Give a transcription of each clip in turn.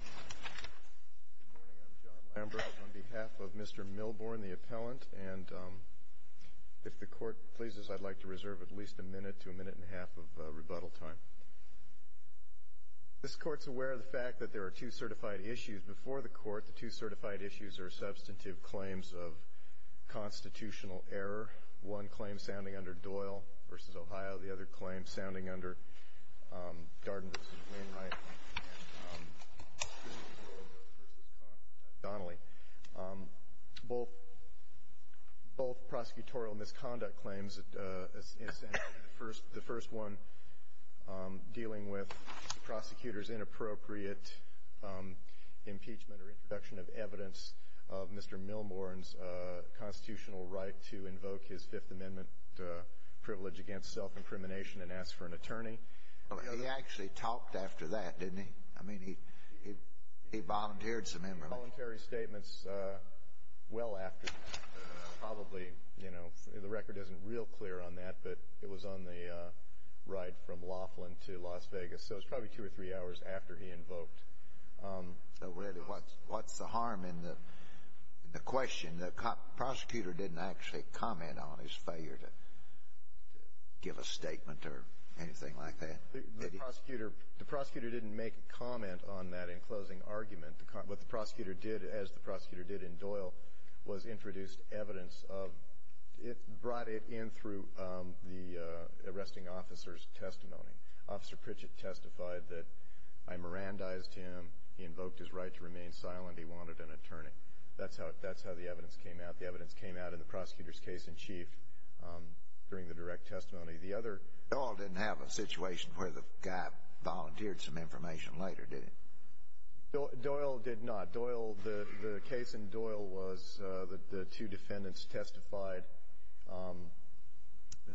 Good morning, I'm John Lambert on behalf of Mr. Milbourn, the appellant, and if the Court pleases I'd like to reserve at least a minute to a minute and a half of rebuttal time. This Court's aware of the fact that there are two certified issues before the Court. The two certified issues are substantive claims of constitutional error, one claim sounding under Doyle v. Ohio, the other claim sounding under Darden v. Wainwright and Donnelly. Both prosecutorial misconduct claims, the first one dealing with the prosecutor's inappropriate impeachment or introduction of evidence of Mr. Milbourn's constitutional right to invoke his Fifth Amendment privilege against self-imprimination and ask for an attorney. He actually talked after that, didn't he? I mean, he volunteered some emergencies. Voluntary statements well after, probably, you know, the record isn't real clear on that, but it was on the ride from Laughlin to Las Vegas, so it was probably two or three hours after he invoked. So, really, what's the harm in the question? The prosecutor didn't actually comment on his failure to give a statement or anything like that? The prosecutor didn't make a comment on that in closing argument. What the prosecutor did, as the prosecutor did in Doyle, was introduce evidence of, it brought it in through the arresting officer's testimony. Officer Pritchett testified that I Mirandized him, he invoked his right to remain silent, he wanted an attorney. That's how the evidence came out. The evidence came out in the prosecutor's case in chief during the direct testimony. Doyle didn't have a situation where the guy volunteered some information later, did he? Doyle did not. Doyle, the case in Doyle was that the two defendants testified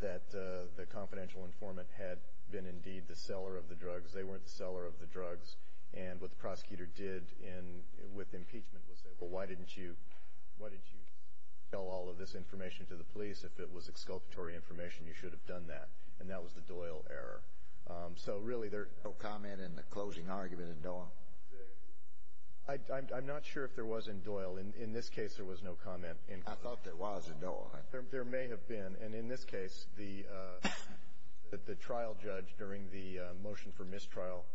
that the confidential informant had been indeed the seller of the drugs, they weren't the seller of the drugs, and what the prosecutor did with impeachment was say, well, why didn't you tell all of this information to the police? If it was exculpatory information, you should have done that. And that was the Doyle error. So, really, there... No comment in the closing argument in Doyle? I'm not sure if there was in Doyle. In this case, there was no comment in Doyle. I thought there was in Doyle. There may have been, and in this case, the trial judge, during the motion for mistrial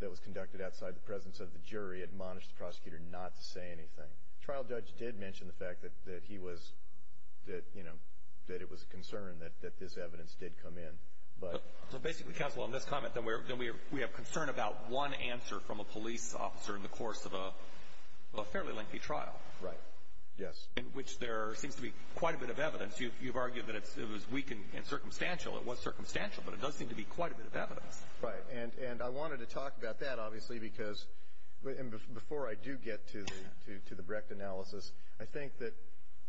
that was conducted outside the presence of the jury, admonished the prosecutor not to say anything. The trial judge did mention the fact that he was, that, you know, that it was a concern that this evidence did come in, but... So, basically, counsel, on this comment, then we have concern about one answer from a police officer in the course of a fairly lengthy trial. Right. Yes. In which there seems to be quite a bit of evidence. You've argued that it was weak and circumstantial. It was circumstantial, but it does seem to be quite a bit of evidence. Right. And I wanted to talk about that, obviously, because, and before I do get to the Brecht analysis, I think that,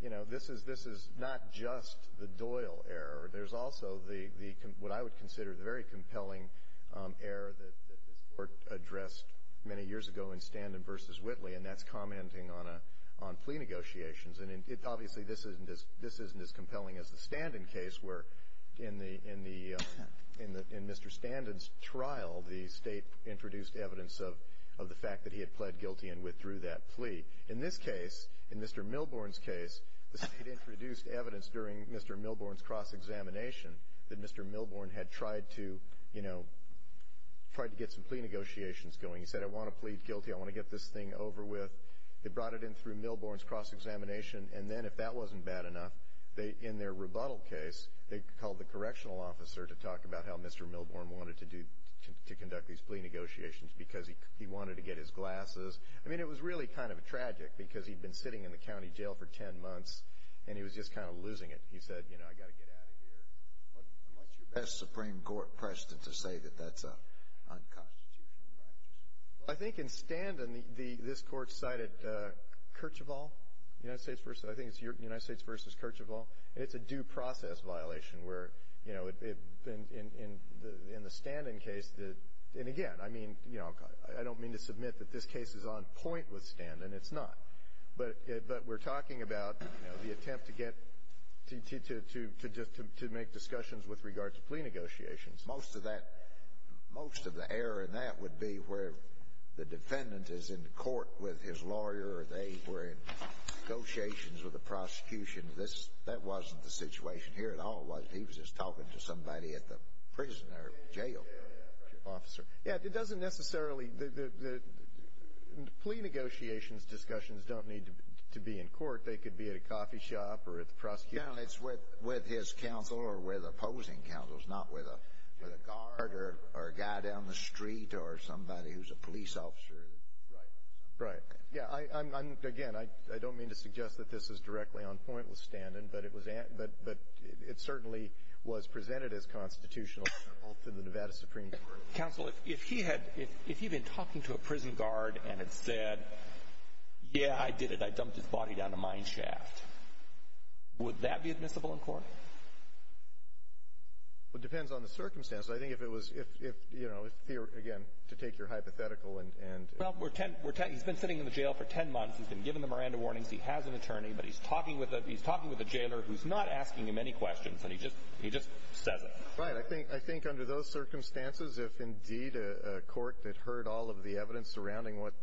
you know, this is not just the Doyle error. There's also the, what I would consider, the very compelling error that this Court addressed many years ago in Standen v. Whitley, and that's commenting on plea negotiations. And, obviously, this isn't as compelling as the Standen case, where in Mr. Standen's trial, the State introduced evidence of the fact that he had pled guilty and withdrew that plea. In this case, in Mr. Milborne's case, the State introduced evidence during Mr. Milborne's cross-examination that Mr. Milborne had tried to, you know, tried to get some plea negotiations going. He said, I want to plead guilty. I want to get this thing over with. They brought it in through Milborne's cross-examination, and then, if that wasn't bad enough, they, in their rebuttal case, they called the correctional officer to talk about how Mr. Milborne wanted to do, to conduct these plea negotiations, because he wanted to get his glasses. I mean, it was really kind of tragic, because he'd been sitting in the county jail for 10 months, and he was just kind of losing it. He said, you know, I've got to get out of here. What's your best Supreme Court precedent to say that that's an unconstitutional practice? I think in Standen, this Court cited Kirchhoffall, United States versus, I think it's United States versus Kirchhoffall. It's a due process violation, where, you know, in the Standen case, and again, I mean, you know, I don't mean to submit that this case is on point with Standen. It's not. But we're talking about, you know, the attempt to get, to make discussions with regard to plea negotiations. Most of that, most of the error in that would be where the defendant is in court with his lawyer, or they were in negotiations with the prosecution. That wasn't the situation here at all. He was just talking to somebody at the prison or jail. Yeah, it doesn't necessarily, the plea negotiations discussions don't need to be in court. They could be at a coffee shop or at the prosecution. No, it's with his counsel or with opposing counsels, not with a guard or a guy down the street or somebody who's a police officer. Right, right. Yeah, again, I don't mean to suggest that this is directly on point with Standen, but it certainly was presented as constitutional in the Nevada Supreme Court. Counsel, if he had, if he'd been talking to a prison guard and had said, yeah, I did it, I dumped his body down a mine shaft, would that be admissible in court? Well, it depends on the circumstance. I think if it was, you know, again, to take your hypothetical. Well, he's been sitting in the jail for 10 months. He's been given the Miranda warnings. He has an attorney. But he's talking with a jailer who's not asking him any questions, and he just says it. Right. I think under those circumstances, if indeed a court had heard all of the evidence surrounding what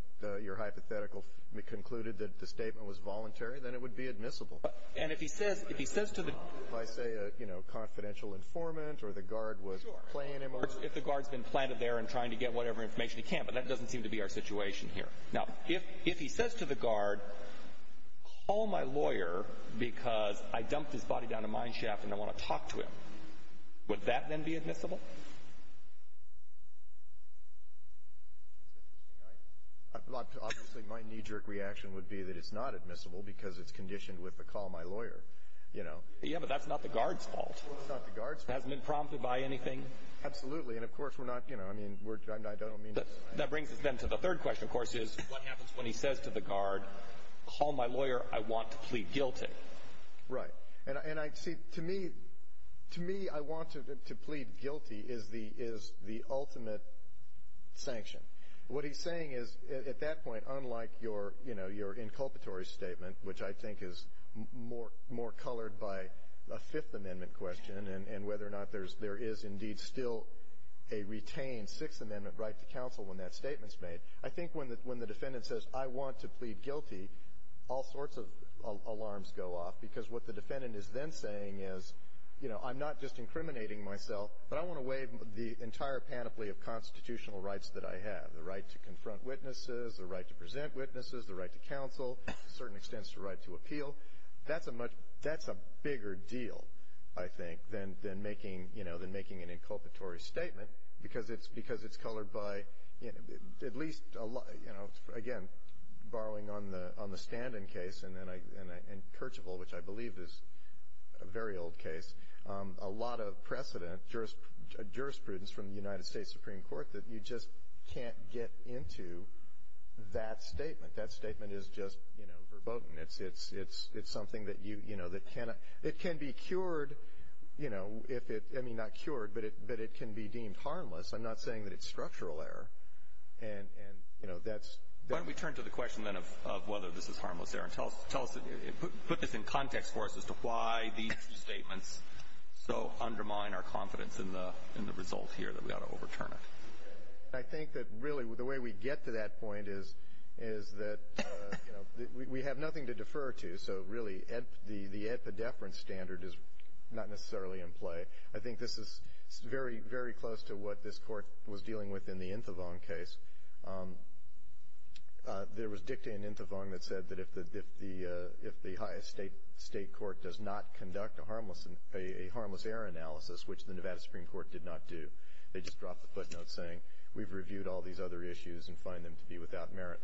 your hypothetical concluded that the statement was voluntary, then it would be admissible. And if he says to the guard. If I say, you know, confidential informant or the guard was playing him a little. If the guard's been planted there and trying to get whatever information he can, but that doesn't seem to be our situation here. Now, if he says to the guard, call my lawyer because I dumped his body down a mine shaft and I want to talk to him, would that then be admissible? Obviously, my knee-jerk reaction would be that it's not admissible because it's conditioned with a call my lawyer, you know. Yeah, but that's not the guard's fault. It's not the guard's fault. It hasn't been prompted by anything. Absolutely. And, of course, we're not, you know, I mean, I don't mean to. That brings us then to the third question, of course, is what happens when he says to the guard, call my lawyer. I want to plead guilty. Right. And, see, to me, to me, I want to plead guilty is the ultimate sanction. What he's saying is, at that point, unlike your, you know, your inculpatory statement, which I think is more colored by a Fifth Amendment question and whether or not there is indeed still a retained Sixth Amendment right to counsel when that statement's made, I think when the defendant says, I want to plead guilty, all sorts of alarms go off, because what the defendant is then saying is, you know, I'm not just incriminating myself, but I want to waive the entire panoply of constitutional rights that I have, the right to confront witnesses, the right to present witnesses, the right to counsel, to a certain extent, the right to appeal. That's a much, that's a bigger deal, I think, than making, you know, than making an inculpatory statement, because it's colored by, you know, at least, you know, again, borrowing on the Standen case, and then I, and Kirchoffel, which I believe is a very old case, a lot of precedent, jurisprudence from the United States Supreme Court, that you just can't get into that statement. That statement is just, you know, verboten. It's something that you, you know, that cannot, it can be cured, you know, if it, I mean, not cured, but it can be deemed harmless. I'm not saying that it's structural error, and, you know, that's. Why don't we turn to the question, then, of whether this is harmless error, and tell us, put this in context for us as to why these two statements so undermine our confidence in the result here, that we ought to overturn it. I think that, really, the way we get to that point is, is that, you know, we have nothing to defer to, so, really, the epidephrine standard is not necessarily in play. I think this is very, very close to what this Court was dealing with in the Inthevong case. There was dicta in Inthevong that said that if the highest state court does not conduct a harmless error analysis, which the Nevada Supreme Court did not do. They just dropped the footnote saying, we've reviewed all these other issues and find them to be without merit.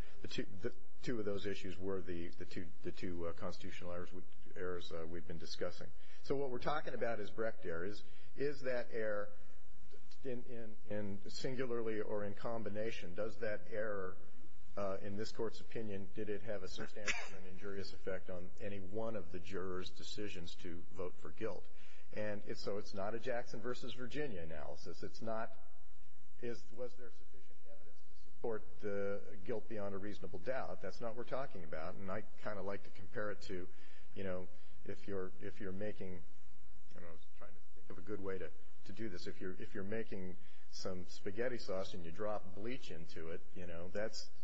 Two of those issues were the two constitutional errors we've been discussing. So what we're talking about is Brecht error. Is that error, singularly or in combination, does that error, in this Court's opinion, did it have a substantial and injurious effect on any one of the jurors' decisions to vote for guilt? And so it's not a Jackson versus Virginia analysis. It's not, was there sufficient evidence to support the guilt beyond a reasonable doubt? That's not what we're talking about. And I kind of like to compare it to, you know, if you're making, I don't know, I was trying to think of a good way to do this. If you're making some spaghetti sauce and you drop bleach into it, you know, that's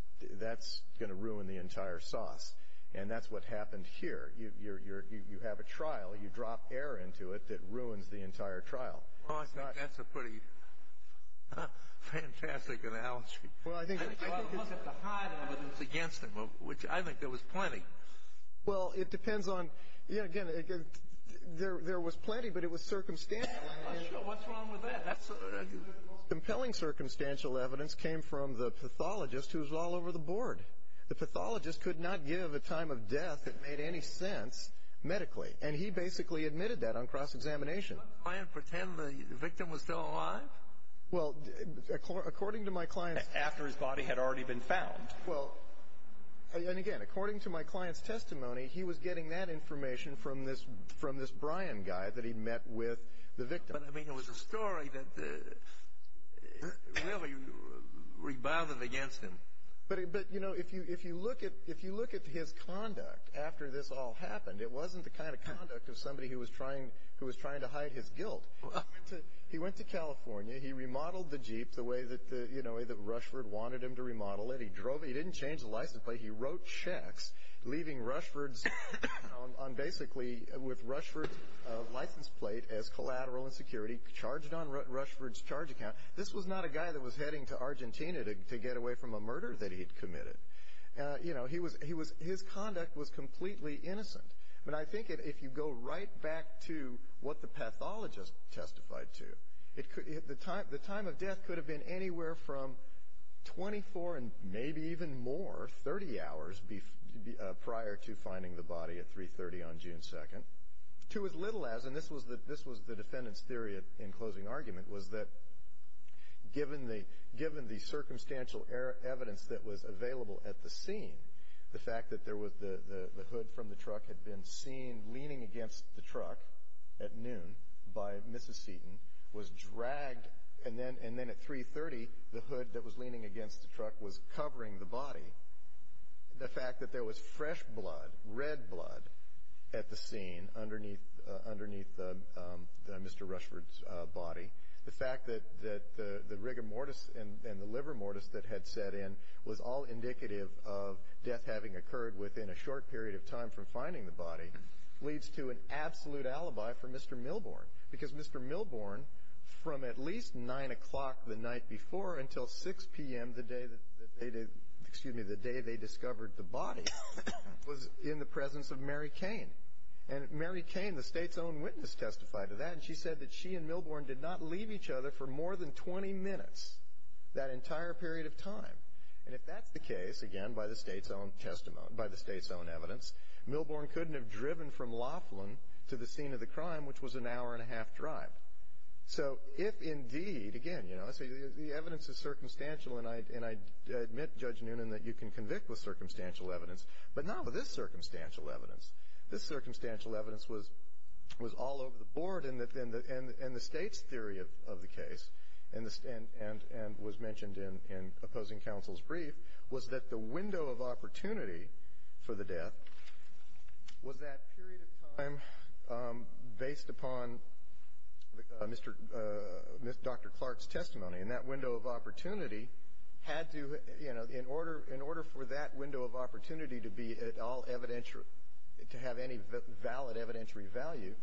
going to ruin the entire sauce. And that's what happened here. You have a trial. You drop air into it that ruins the entire trial. Well, I think that's a pretty fantastic analogy. Well, I think it's. I look at the high evidence against him, which I think there was plenty. Well, it depends on, you know, again, there was plenty, but it was circumstantial. What's wrong with that? Compelling circumstantial evidence came from the pathologist who was all over the board. The pathologist could not give a time of death that made any sense medically, and he basically admitted that on cross-examination. Did the client pretend the victim was still alive? Well, according to my client's. After his body had already been found. Well, and again, according to my client's testimony, he was getting that information from this Brian guy that he met with the victim. But, I mean, it was a story that really rebothered against him. But, you know, if you look at his conduct after this all happened, it wasn't the kind of conduct of somebody who was trying to hide his guilt. He went to California. He remodeled the Jeep the way that Rushford wanted him to remodel it. He drove it. He didn't change the license plate. He wrote checks, leaving Rushford's on basically with Rushford's license plate as collateral and security, charged on Rushford's charge account. This was not a guy that was heading to Argentina to get away from a murder that he had committed. You know, his conduct was completely innocent. But I think if you go right back to what the pathologist testified to, the time of death could have been anywhere from 24 and maybe even more, 30 hours, prior to finding the body at 3.30 on June 2nd, to as little as, and this was the defendant's theory in closing argument, was that given the circumstantial evidence that was available at the scene, the fact that the hood from the truck had been seen leaning against the truck at noon by Mrs. Seaton, was dragged, and then at 3.30 the hood that was leaning against the truck was covering the body, the fact that there was fresh blood, red blood, at the scene underneath Mr. Rushford's body, the fact that the rigor mortis and the liver mortis that had set in was all indicative of death having occurred within a short period of time from finding the body, leads to an absolute alibi for Mr. Milborn. Because Mr. Milborn, from at least 9 o'clock the night before until 6 p.m. the day they discovered the body was in the presence of Mary Cain. And Mary Cain, the state's own witness, testified to that, and she said that she and Milborn did not leave each other for more than 20 minutes, that entire period of time. And if that's the case, again, by the state's own testimony, by the state's own evidence, Milborn couldn't have driven from Laughlin to the scene of the crime, which was an hour and a half drive. So if indeed, again, you know, the evidence is circumstantial, and I admit, Judge Noonan, that you can convict with circumstantial evidence, but not with this circumstantial evidence. This circumstantial evidence was all over the board, and the state's theory of the case, and was mentioned in opposing counsel's brief, was that the window of opportunity for the death was that period of time based upon Dr. Clark's testimony, and that window of opportunity had to, you know, in order for that window of opportunity to be at all evidential, to have any valid evidentiary value,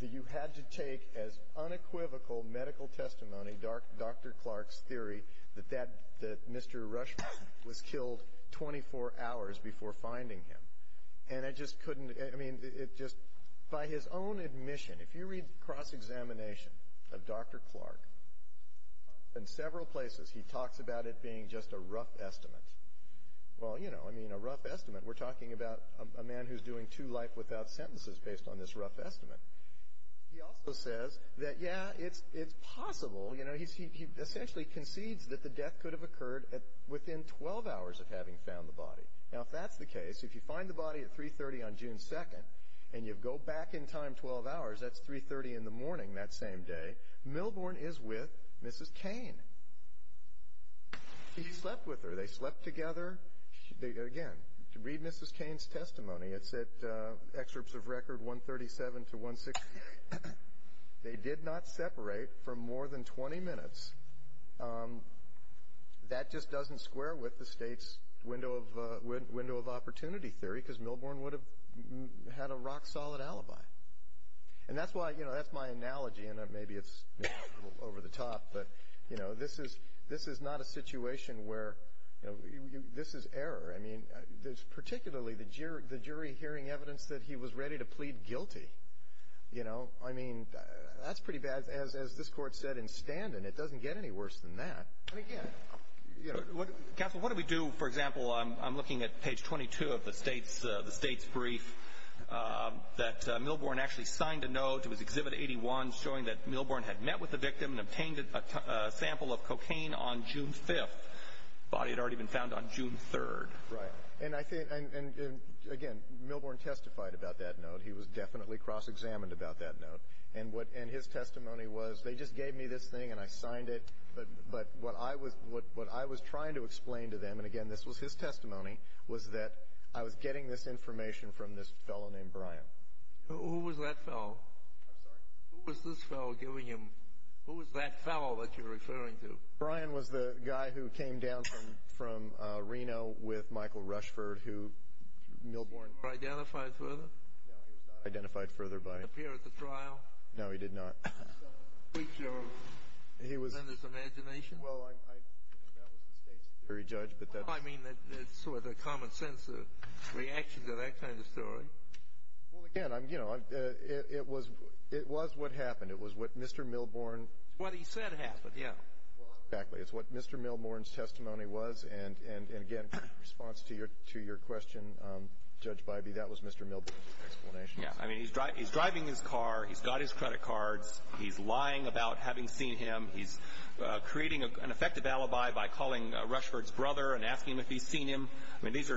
that you had to take as unequivocal medical testimony Dr. Clark's theory that Mr. Rushmore was killed 24 hours before finding him. And I just couldn't, I mean, it just, by his own admission, if you read cross-examination of Dr. Clark, in several places he talks about it being just a rough estimate. Well, you know, I mean, a rough estimate, we're talking about a man who's doing two life without sentences based on this rough estimate. He also says that, yeah, it's possible, you know, he essentially concedes that the death could have occurred within 12 hours of having found the body. Now, if that's the case, if you find the body at 3.30 on June 2nd, and you go back in time 12 hours, that's 3.30 in the morning that same day, Milbourne is with Mrs. Kane. He slept with her. They slept together. Again, read Mrs. Kane's testimony. It's at excerpts of record 137 to 160. They did not separate for more than 20 minutes. That just doesn't square with the state's window of opportunity theory, because Milbourne would have had a rock-solid alibi. And that's why, you know, that's my analogy, and maybe it's a little over the top, but, you know, this is not a situation where, you know, this is error. I mean, particularly the jury hearing evidence that he was ready to plead guilty, you know. I mean, that's pretty bad. As this Court said in Standen, it doesn't get any worse than that. And, again, you know. Counsel, what do we do, for example, I'm looking at page 22 of the state's brief, that Milbourne actually signed a note, it was Exhibit 81, showing that Milbourne had met with the victim and obtained a sample of cocaine on June 5th. The body had already been found on June 3rd. Right. And, again, Milbourne testified about that note. He was definitely cross-examined about that note. And his testimony was, they just gave me this thing and I signed it, but what I was trying to explain to them, and, again, this was his testimony, was that I was getting this information from this fellow named Brian. Who was that fellow? I'm sorry? Who was this fellow giving him? Who was that fellow that you're referring to? Brian was the guy who came down from Reno with Michael Rushford, who Milbourne. Was he identified further? No, he was not identified further by. Did he appear at the trial? No, he did not. Was he a creature of the defendant's imagination? Well, that was the state's jury judge, but that's. I mean, that's sort of the common sense reaction to that kind of story. Well, again, you know, it was what happened. It was what Mr. Milbourne. What he said happened, yeah. Exactly. It's what Mr. Milbourne's testimony was. And, again, in response to your question, Judge Bybee, that was Mr. Milbourne's explanation. Yeah. I mean, he's driving his car. He's got his credit cards. He's lying about having seen him. He's creating an effective alibi by calling Rushford's brother and asking him if he's seen him. I mean, these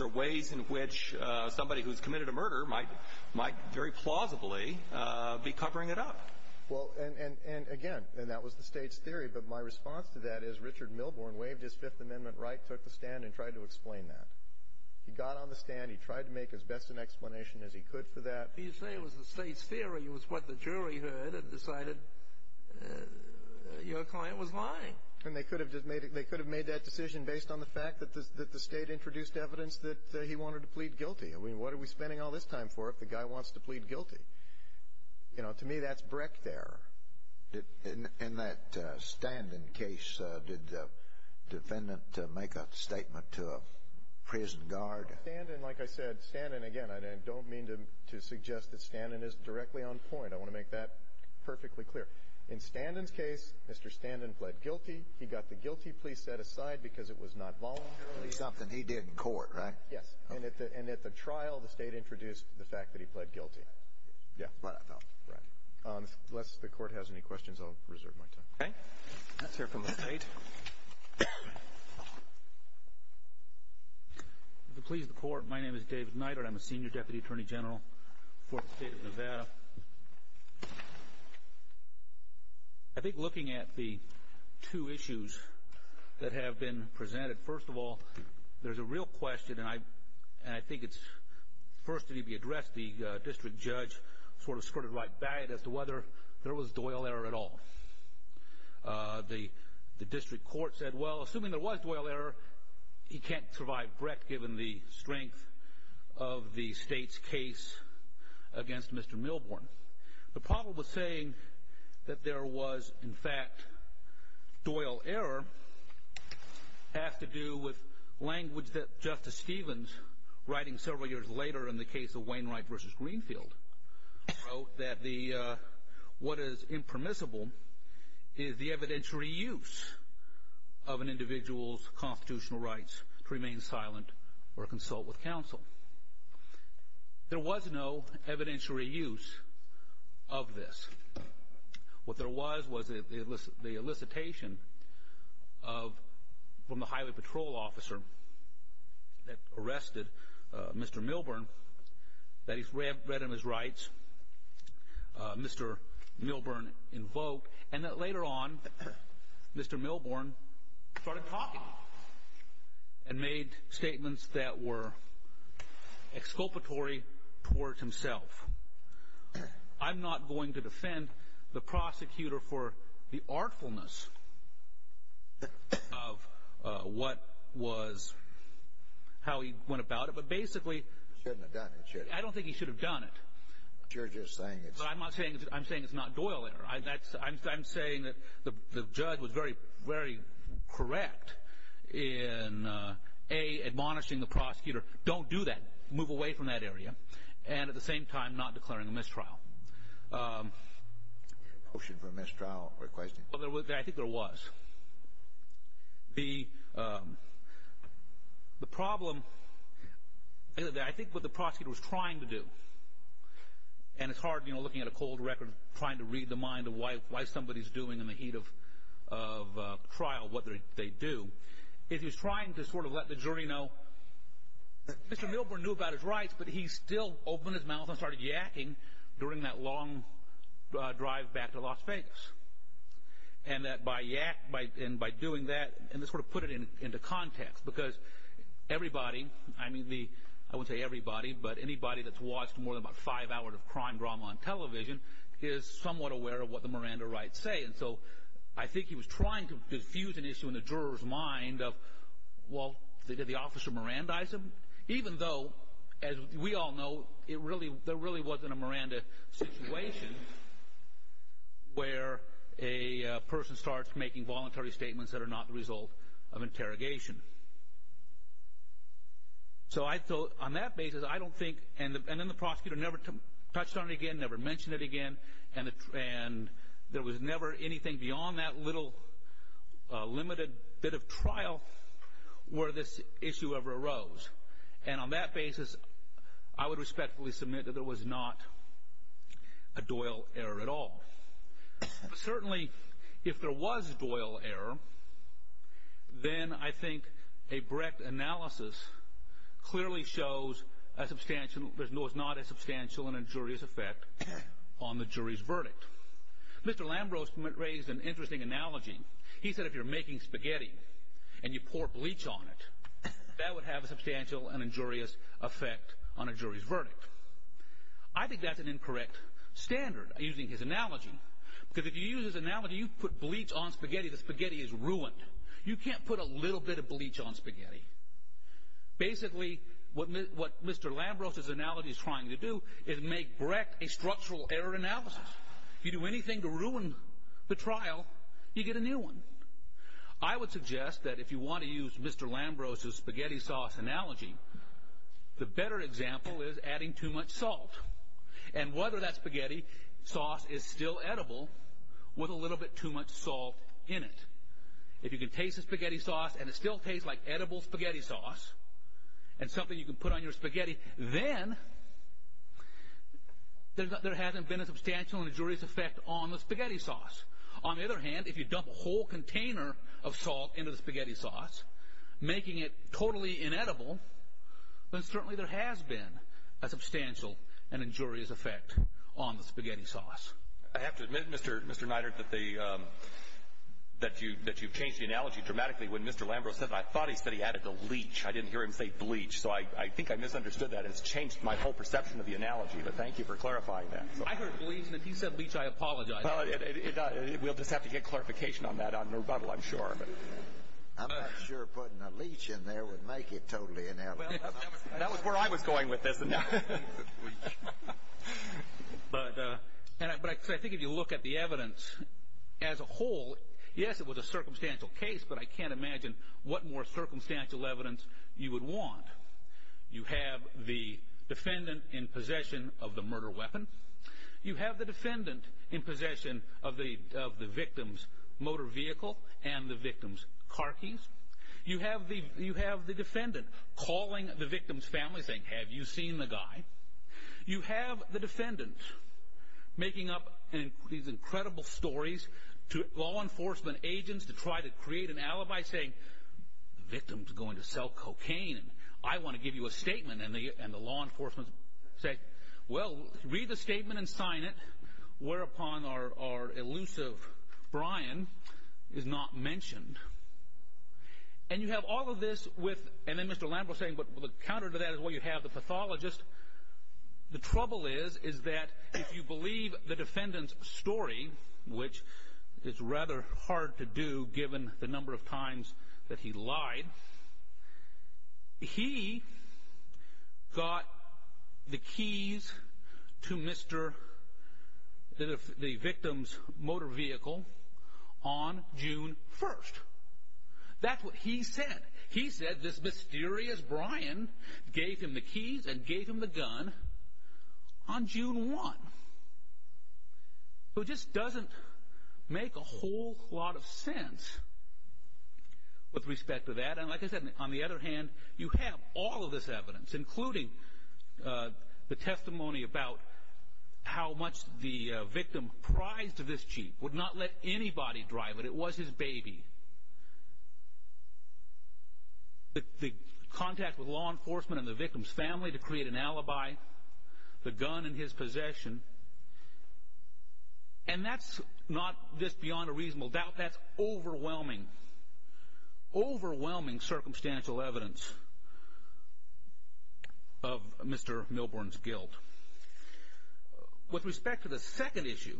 are ways in which somebody who's committed a murder might very plausibly be covering it up. Well, and, again, that was the state's theory. But my response to that is Richard Milbourne waived his Fifth Amendment right, took the stand, and tried to explain that. He got on the stand. He tried to make as best an explanation as he could for that. You say it was the state's theory. It was what the jury heard and decided your client was lying. And they could have made that decision based on the fact that the state introduced evidence that he wanted to plead guilty. I mean, what are we spending all this time for if the guy wants to plead guilty? You know, to me, that's Breck there. In that Standen case, did the defendant make a statement to a prison guard? Standen, like I said, Standen, again, I don't mean to suggest that Standen is directly on point. I want to make that perfectly clear. In Standen's case, Mr. Standen pled guilty. He got the guilty plea set aside because it was not voluntary. Something he did in court, right? Yes. And at the trial, the state introduced the fact that he pled guilty. Yeah. Right. Unless the Court has any questions, I'll reserve my time. Okay. Let's hear from the State. If it pleases the Court, my name is David Neidert. I'm a Senior Deputy Attorney General for the State of Nevada. I think looking at the two issues that have been presented, first of all, there's a real question, and I think it's first need to be addressed, the District Judge sort of squirted right back at us as to whether there was Doyle error at all. The District Court said, well, assuming there was Doyle error, he can't survive Brett given the strength of the State's case against Mr. Milborn. The problem with saying that there was, in fact, Doyle error has to do with language that Justice Stevens, writing several years later in the case of Wainwright v. Greenfield, wrote that what is impermissible is the evidentiary use of an individual's constitutional rights to remain silent or consult with counsel. There was no evidentiary use of this. What there was was the elicitation from the Highway Patrol officer that arrested Mr. Milborn that he's read in his rights, Mr. Milborn invoked, and that later on Mr. Milborn started talking and made statements that were exculpatory towards himself. I'm not going to defend the prosecutor for the artfulness of what was how he went about it, but basically I don't think he should have done it. I'm saying it's not Doyle error. I'm saying that the judge was very, very correct in, A, admonishing the prosecutor, don't do that, move away from that area, and at the same time not declaring a mistrial. Motion for mistrial requesting? I think there was. The problem, I think what the prosecutor was trying to do, and it's hard looking at a cold record trying to read the mind of why somebody's doing in the heat of trial what they do, is he was trying to sort of let the jury know that Mr. Milborn knew about his rights, but he still opened his mouth and started yakking during that long drive back to Las Vegas, and by doing that, and to sort of put it into context, because everybody, I won't say everybody, but anybody that's watched more than about five hours of crime drama on television is somewhat aware of what the Miranda rights say, and so I think he was trying to diffuse an issue in the juror's mind of, well, did the officer Mirandize him? Even though, as we all know, there really wasn't a Miranda situation where a person starts making voluntary statements that are not the result of interrogation. So on that basis, I don't think, and then the prosecutor never touched on it again, never mentioned it again, and there was never anything beyond that little limited bit of trial where this issue ever arose, and on that basis, I would respectfully submit that there was not a Doyle error at all. Certainly, if there was a Doyle error, then I think a Brecht analysis clearly shows there was not a substantial and injurious effect on the jury's verdict. Mr. Lambros raised an interesting analogy. He said if you're making spaghetti and you pour bleach on it, that would have a substantial and injurious effect on a jury's verdict. I think that's an incorrect standard, using his analogy, because if you use his analogy, you put bleach on spaghetti, the spaghetti is ruined. You can't put a little bit of bleach on spaghetti. Basically, what Mr. Lambros' analogy is trying to do is make Brecht a structural error analysis. If you do anything to ruin the trial, you get a new one. I would suggest that if you want to use Mr. Lambros' spaghetti sauce analogy, the better example is adding too much salt and whether that spaghetti sauce is still edible with a little bit too much salt in it. If you can taste the spaghetti sauce and it still tastes like edible spaghetti sauce and something you can put on your spaghetti, then there hasn't been a substantial and injurious effect on the spaghetti sauce. On the other hand, if you dump a whole container of salt into the spaghetti sauce, making it totally inedible, then certainly there has been a substantial and injurious effect on the spaghetti sauce. I have to admit, Mr. Neidert, that you've changed the analogy dramatically. When Mr. Lambros said that, I thought he said he added the leech. I didn't hear him say bleach, so I think I misunderstood that. It's changed my whole perception of the analogy, but thank you for clarifying that. I heard bleach and if he said leech, I apologize. We'll just have to get clarification on that on rebuttal, I'm sure. I'm not sure putting a leech in there would make it totally inedible. That was where I was going with this. I think if you look at the evidence as a whole, yes, it was a circumstantial case, but I can't imagine what more circumstantial evidence you would want. You have the defendant in possession of the murder weapon. You have the defendant in possession of the victim's motor vehicle and the victim's car keys. You have the defendant calling the victim's family saying, have you seen the guy? You have the defendant making up these incredible stories to law enforcement agents to try to create an alibi saying, the victim's going to sell cocaine and I want to give you a statement, and the law enforcement say, well, read the statement and sign it, whereupon our elusive Brian is not mentioned. And you have all of this with, and then Mr. Lambert was saying, but the counter to that is what you have, the pathologist. The trouble is, is that if you believe the defendant's story, which is rather hard to do given the number of times that he lied, he got the keys to the victim's motor vehicle on June 1st. That's what he said. He said this mysterious Brian gave him the keys and gave him the gun on June 1. So it just doesn't make a whole lot of sense with respect to that. And like I said, on the other hand, you have all of this evidence, including the testimony about how much the victim prized to this chief, would not let anybody drive it. It was his baby. The contact with law enforcement and the victim's family to create an alibi, the gun in his possession, and that's not this beyond a reasonable doubt, that's overwhelming, overwhelming circumstantial evidence of Mr. Milbourne's guilt. With respect to the second issue,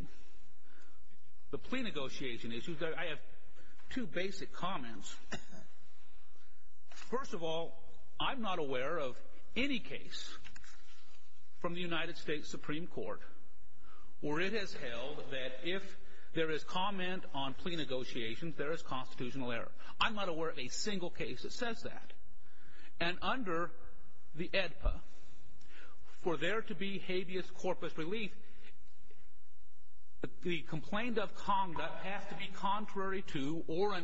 the plea negotiation issue, I have two basic comments. First of all, I'm not aware of any case from the United States Supreme Court where it has held that if there is comment on plea negotiations, there is constitutional error. I'm not aware of a single case that says that. And under the AEDPA, for there to be habeas corpus relief, the complaint of conduct has to be contrary to or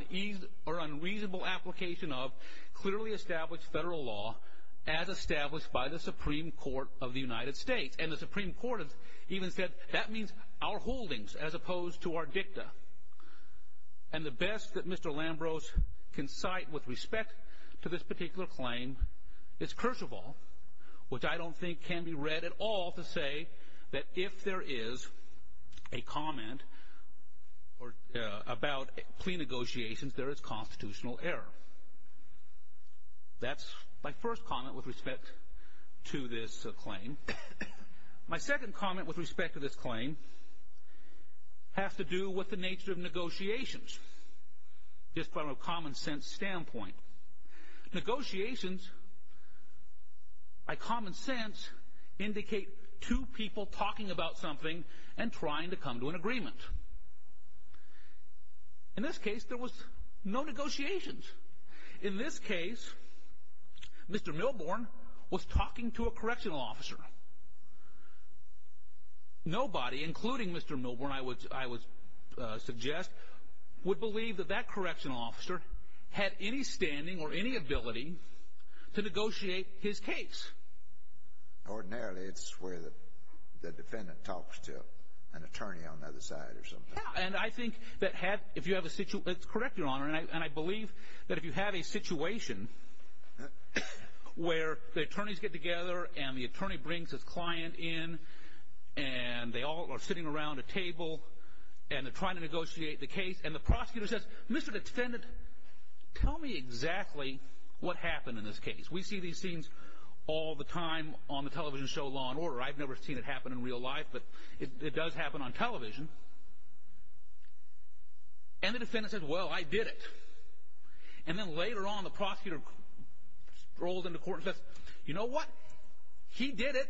unreasonable application of clearly established federal law as established by the Supreme Court of the United States. And the Supreme Court even said that means our holdings as opposed to our dicta. And the best that Mr. Lambros can cite with respect to this particular claim is Kershavall, which I don't think can be read at all to say that if there is a comment about plea negotiations, there is constitutional error. That's my first comment with respect to this claim. My second comment with respect to this claim has to do with the nature of negotiations, just from a common sense standpoint. Negotiations, by common sense, indicate two people talking about something and trying to come to an agreement. In this case, there was no negotiations. In this case, Mr. Milborne was talking to a correctional officer. Nobody, including Mr. Milborne, I would suggest, would believe that that correctional officer had any standing or any ability to negotiate his case. Ordinarily, it's where the defendant talks to an attorney on the other side or something. And I think that if you have a situation, it's correct, Your Honor, and I believe that if you have a situation where the attorneys get together and the attorney brings his client in and they all are sitting around a table and they're trying to negotiate the case and the prosecutor says, Mr. Defendant, tell me exactly what happened in this case. We see these scenes all the time on the television show Law & Order. I've never seen it happen in real life, but it does happen on television. And the defendant says, Well, I did it. And then later on, the prosecutor strolls into court and says, You know what? He did it.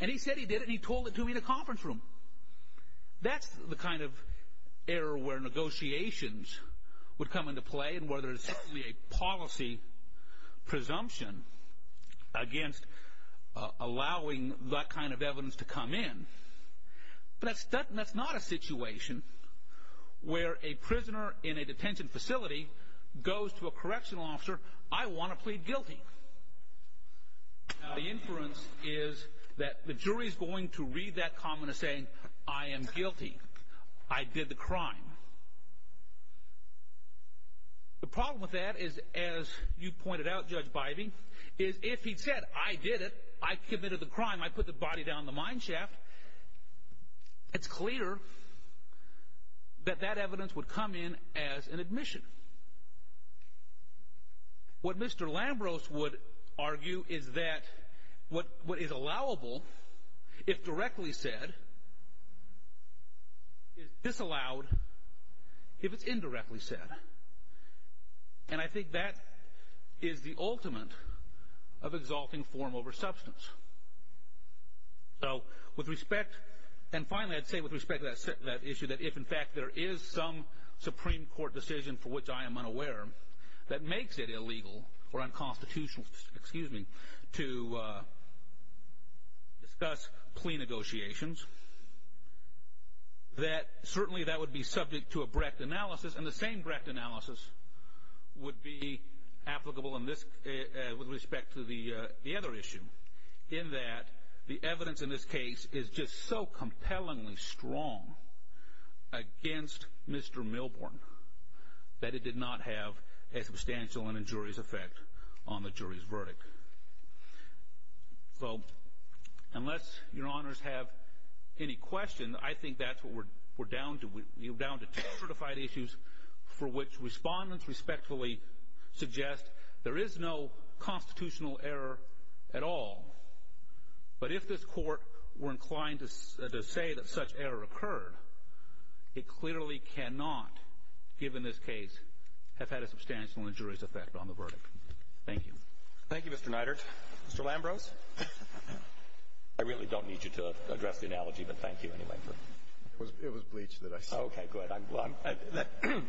And he said he did it and he told it to me in a conference room. That's the kind of error where negotiations would come into play and where there's simply a policy presumption against allowing that kind of evidence to come in. But that's not a situation where a prisoner in a detention facility goes to a correctional officer, I want to plead guilty. The inference is that the jury is going to read that comment as saying, I am guilty. I did the crime. The problem with that is, as you pointed out, Judge Bybee, is if he said, I did it, I committed the crime, I put the body down in the mine shaft, it's clear that that evidence would come in as an admission. What Mr. Lambros would argue is that what is allowable, if directly said, is disallowed if it's indirectly said. And I think that is the ultimate of exalting form over substance. So with respect, and finally I'd say with respect to that issue, that if in fact there is some Supreme Court decision for which I am unaware that makes it illegal or unconstitutional, excuse me, to discuss plea negotiations, that certainly that would be subject to a Brecht analysis and the same Brecht analysis would be applicable with respect to the other issue, in that the evidence in this case is just so compellingly strong against Mr. Milborn that it did not have a substantial and injurious effect on the jury's verdict. So unless your honors have any questions, I think that's what we're down to. We're down to two certified issues for which respondents respectfully suggest there is no constitutional error at all. But if this court were inclined to say that such error occurred, it clearly cannot, given this case, have had a substantial and injurious effect on the verdict. Thank you. Thank you, Mr. Neidert. Mr. Lambros? I really don't need you to address the analogy, but thank you anyway. It was bleach that I said. Okay, good.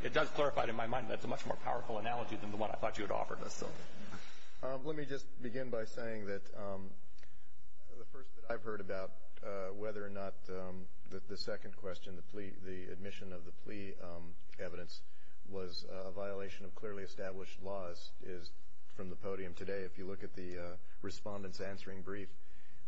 It does clarify it in my mind that it's a much more powerful analogy than the one I thought you had offered us. Let me just begin by saying that the first that I've heard about whether or not the second question, the admission of the plea evidence was a violation of clearly established laws, is from the podium today. If you look at the respondent's answering brief,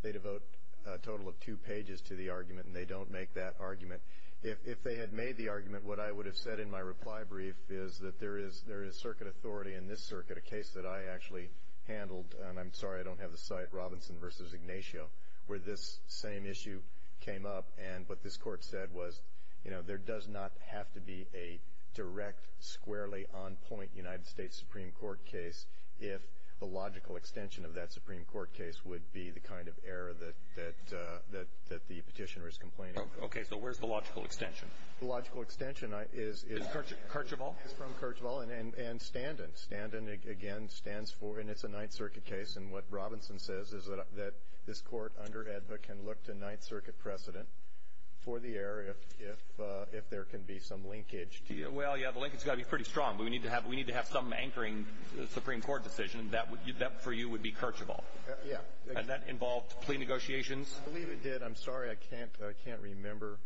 they devote a total of two pages to the argument and they don't make that argument. If they had made the argument, what I would have said in my reply brief is that there is circuit authority in this circuit, a case that I actually handled, and I'm sorry I don't have the site, Robinson v. Ignacio, where this same issue came up. And what this court said was, you know, there does not have to be a direct, squarely, on-point United States Supreme Court case if the logical extension of that Supreme Court case would be the kind of error that the petitioner is complaining about. Okay, so where's the logical extension? The logical extension is from Kerchival and Standen. Standen, again, stands for, and it's a Ninth Circuit case, and what Robinson says is that this court under EDVA can look to Ninth Circuit precedent for the error if there can be some linkage to you. Well, yeah, the linkage has got to be pretty strong. We need to have some anchoring Supreme Court decision. That, for you, would be Kerchival. Yeah. And that involved plea negotiations. I believe it did. I'm sorry, I can't remember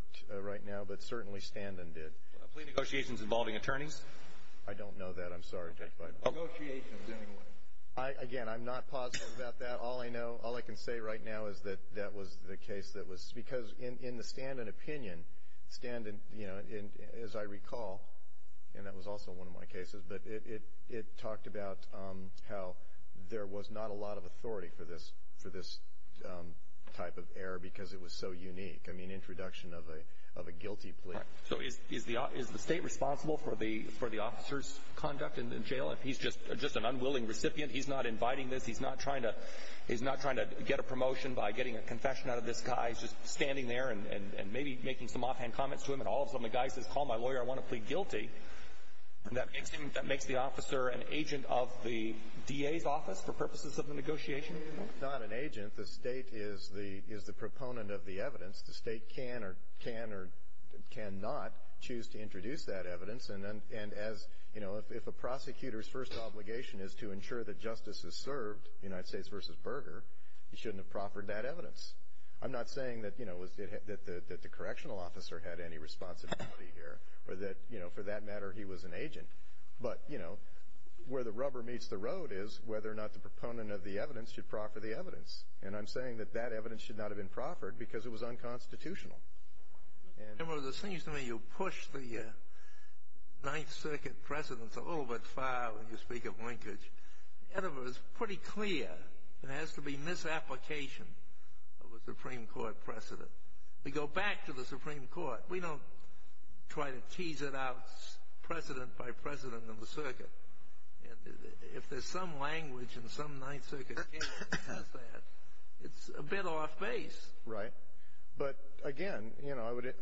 right now, but certainly Standen did. Plea negotiations involving attorneys? I don't know that. I'm sorry. Okay. Negotiations, anyway. Again, I'm not positive about that. All I know, all I can say right now is that that was the case that was, because in the Standen opinion, Standen, you know, as I recall, and that was also one of my cases, but it talked about how there was not a lot of authority for this type of error because it was so unique, I mean, introduction of a guilty plea. So is the state responsible for the officer's conduct in jail? If he's just an unwilling recipient, he's not inviting this, he's not trying to get a promotion by getting a confession out of this guy, he's just standing there and maybe making some offhand comments to him, and all of a sudden the guy says, call my lawyer, I want to plead guilty, that makes the officer an agent of the DA's office for purposes of the negotiation? He's not an agent. The state is the proponent of the evidence. The state can or cannot choose to introduce that evidence, and as, you know, if a prosecutor's first obligation is to ensure that justice is served, United States v. Berger, he shouldn't have proffered that evidence. I'm not saying that, you know, that the correctional officer had any responsibility here or that, you know, for that matter he was an agent. But, you know, where the rubber meets the road is whether or not the proponent of the evidence should proffer the evidence. And I'm saying that that evidence should not have been proffered because it was unconstitutional. Remember, it seems to me you push the Ninth Circuit precedents a little bit far when you speak of linkage. And it was pretty clear there has to be misapplication of a Supreme Court precedent. We go back to the Supreme Court. We don't try to tease it out precedent by precedent in the circuit. If there's some language in some Ninth Circuit case that says that, it's a bit off base. Right. But, again, you know, I would—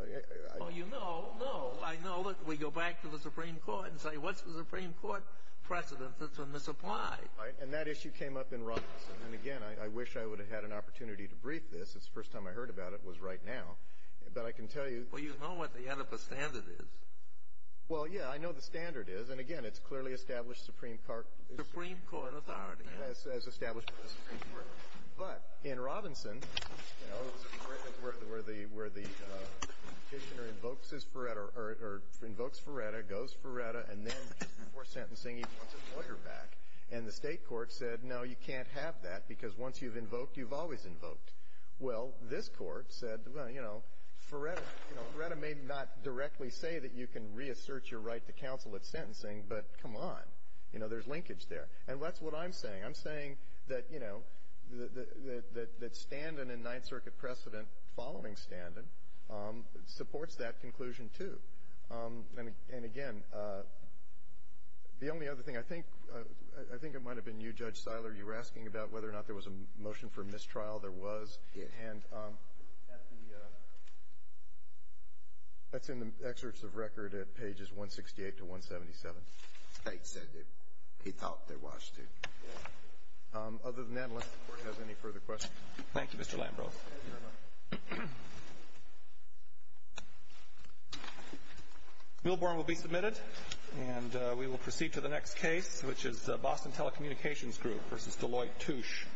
Oh, you know, no. I know that we go back to the Supreme Court and say, what's the Supreme Court precedent that's been misapplied? Right, and that issue came up in Robinson. And, again, I wish I would have had an opportunity to brief this. The first time I heard about it was right now. But I can tell you— Well, you know what the Oedipus standard is. Well, yeah, I know the standard is. And, again, it's clearly established Supreme Court— Supreme Court authority. As established by the Supreme Court. But in Robinson, you know, where the petitioner invokes Ferretta, goes Ferretta, and then, just before sentencing, he wants his lawyer back. And the State court said, no, you can't have that, because once you've invoked, you've always invoked. Well, this Court said, well, you know, Ferretta may not directly say that you can reassert your right to counsel at sentencing, but come on. You know, there's linkage there. And that's what I'm saying. I'm saying that, you know, that Standen and Ninth Circuit precedent following Standen supports that conclusion, too. And, again, the only other thing, I think it might have been you, Judge Seiler, you were asking about whether or not there was a motion for mistrial. There was. And that's in the excerpts of record at pages 168 to 177. State said that he thought there was, too. Other than that, unless the Court has any further questions. Thank you, Mr. Lambrow. Thank you very much. Milburn will be submitted, and we will proceed to the next case, which is Boston Telecommunications Group v. Deloitte Touche to Motsu.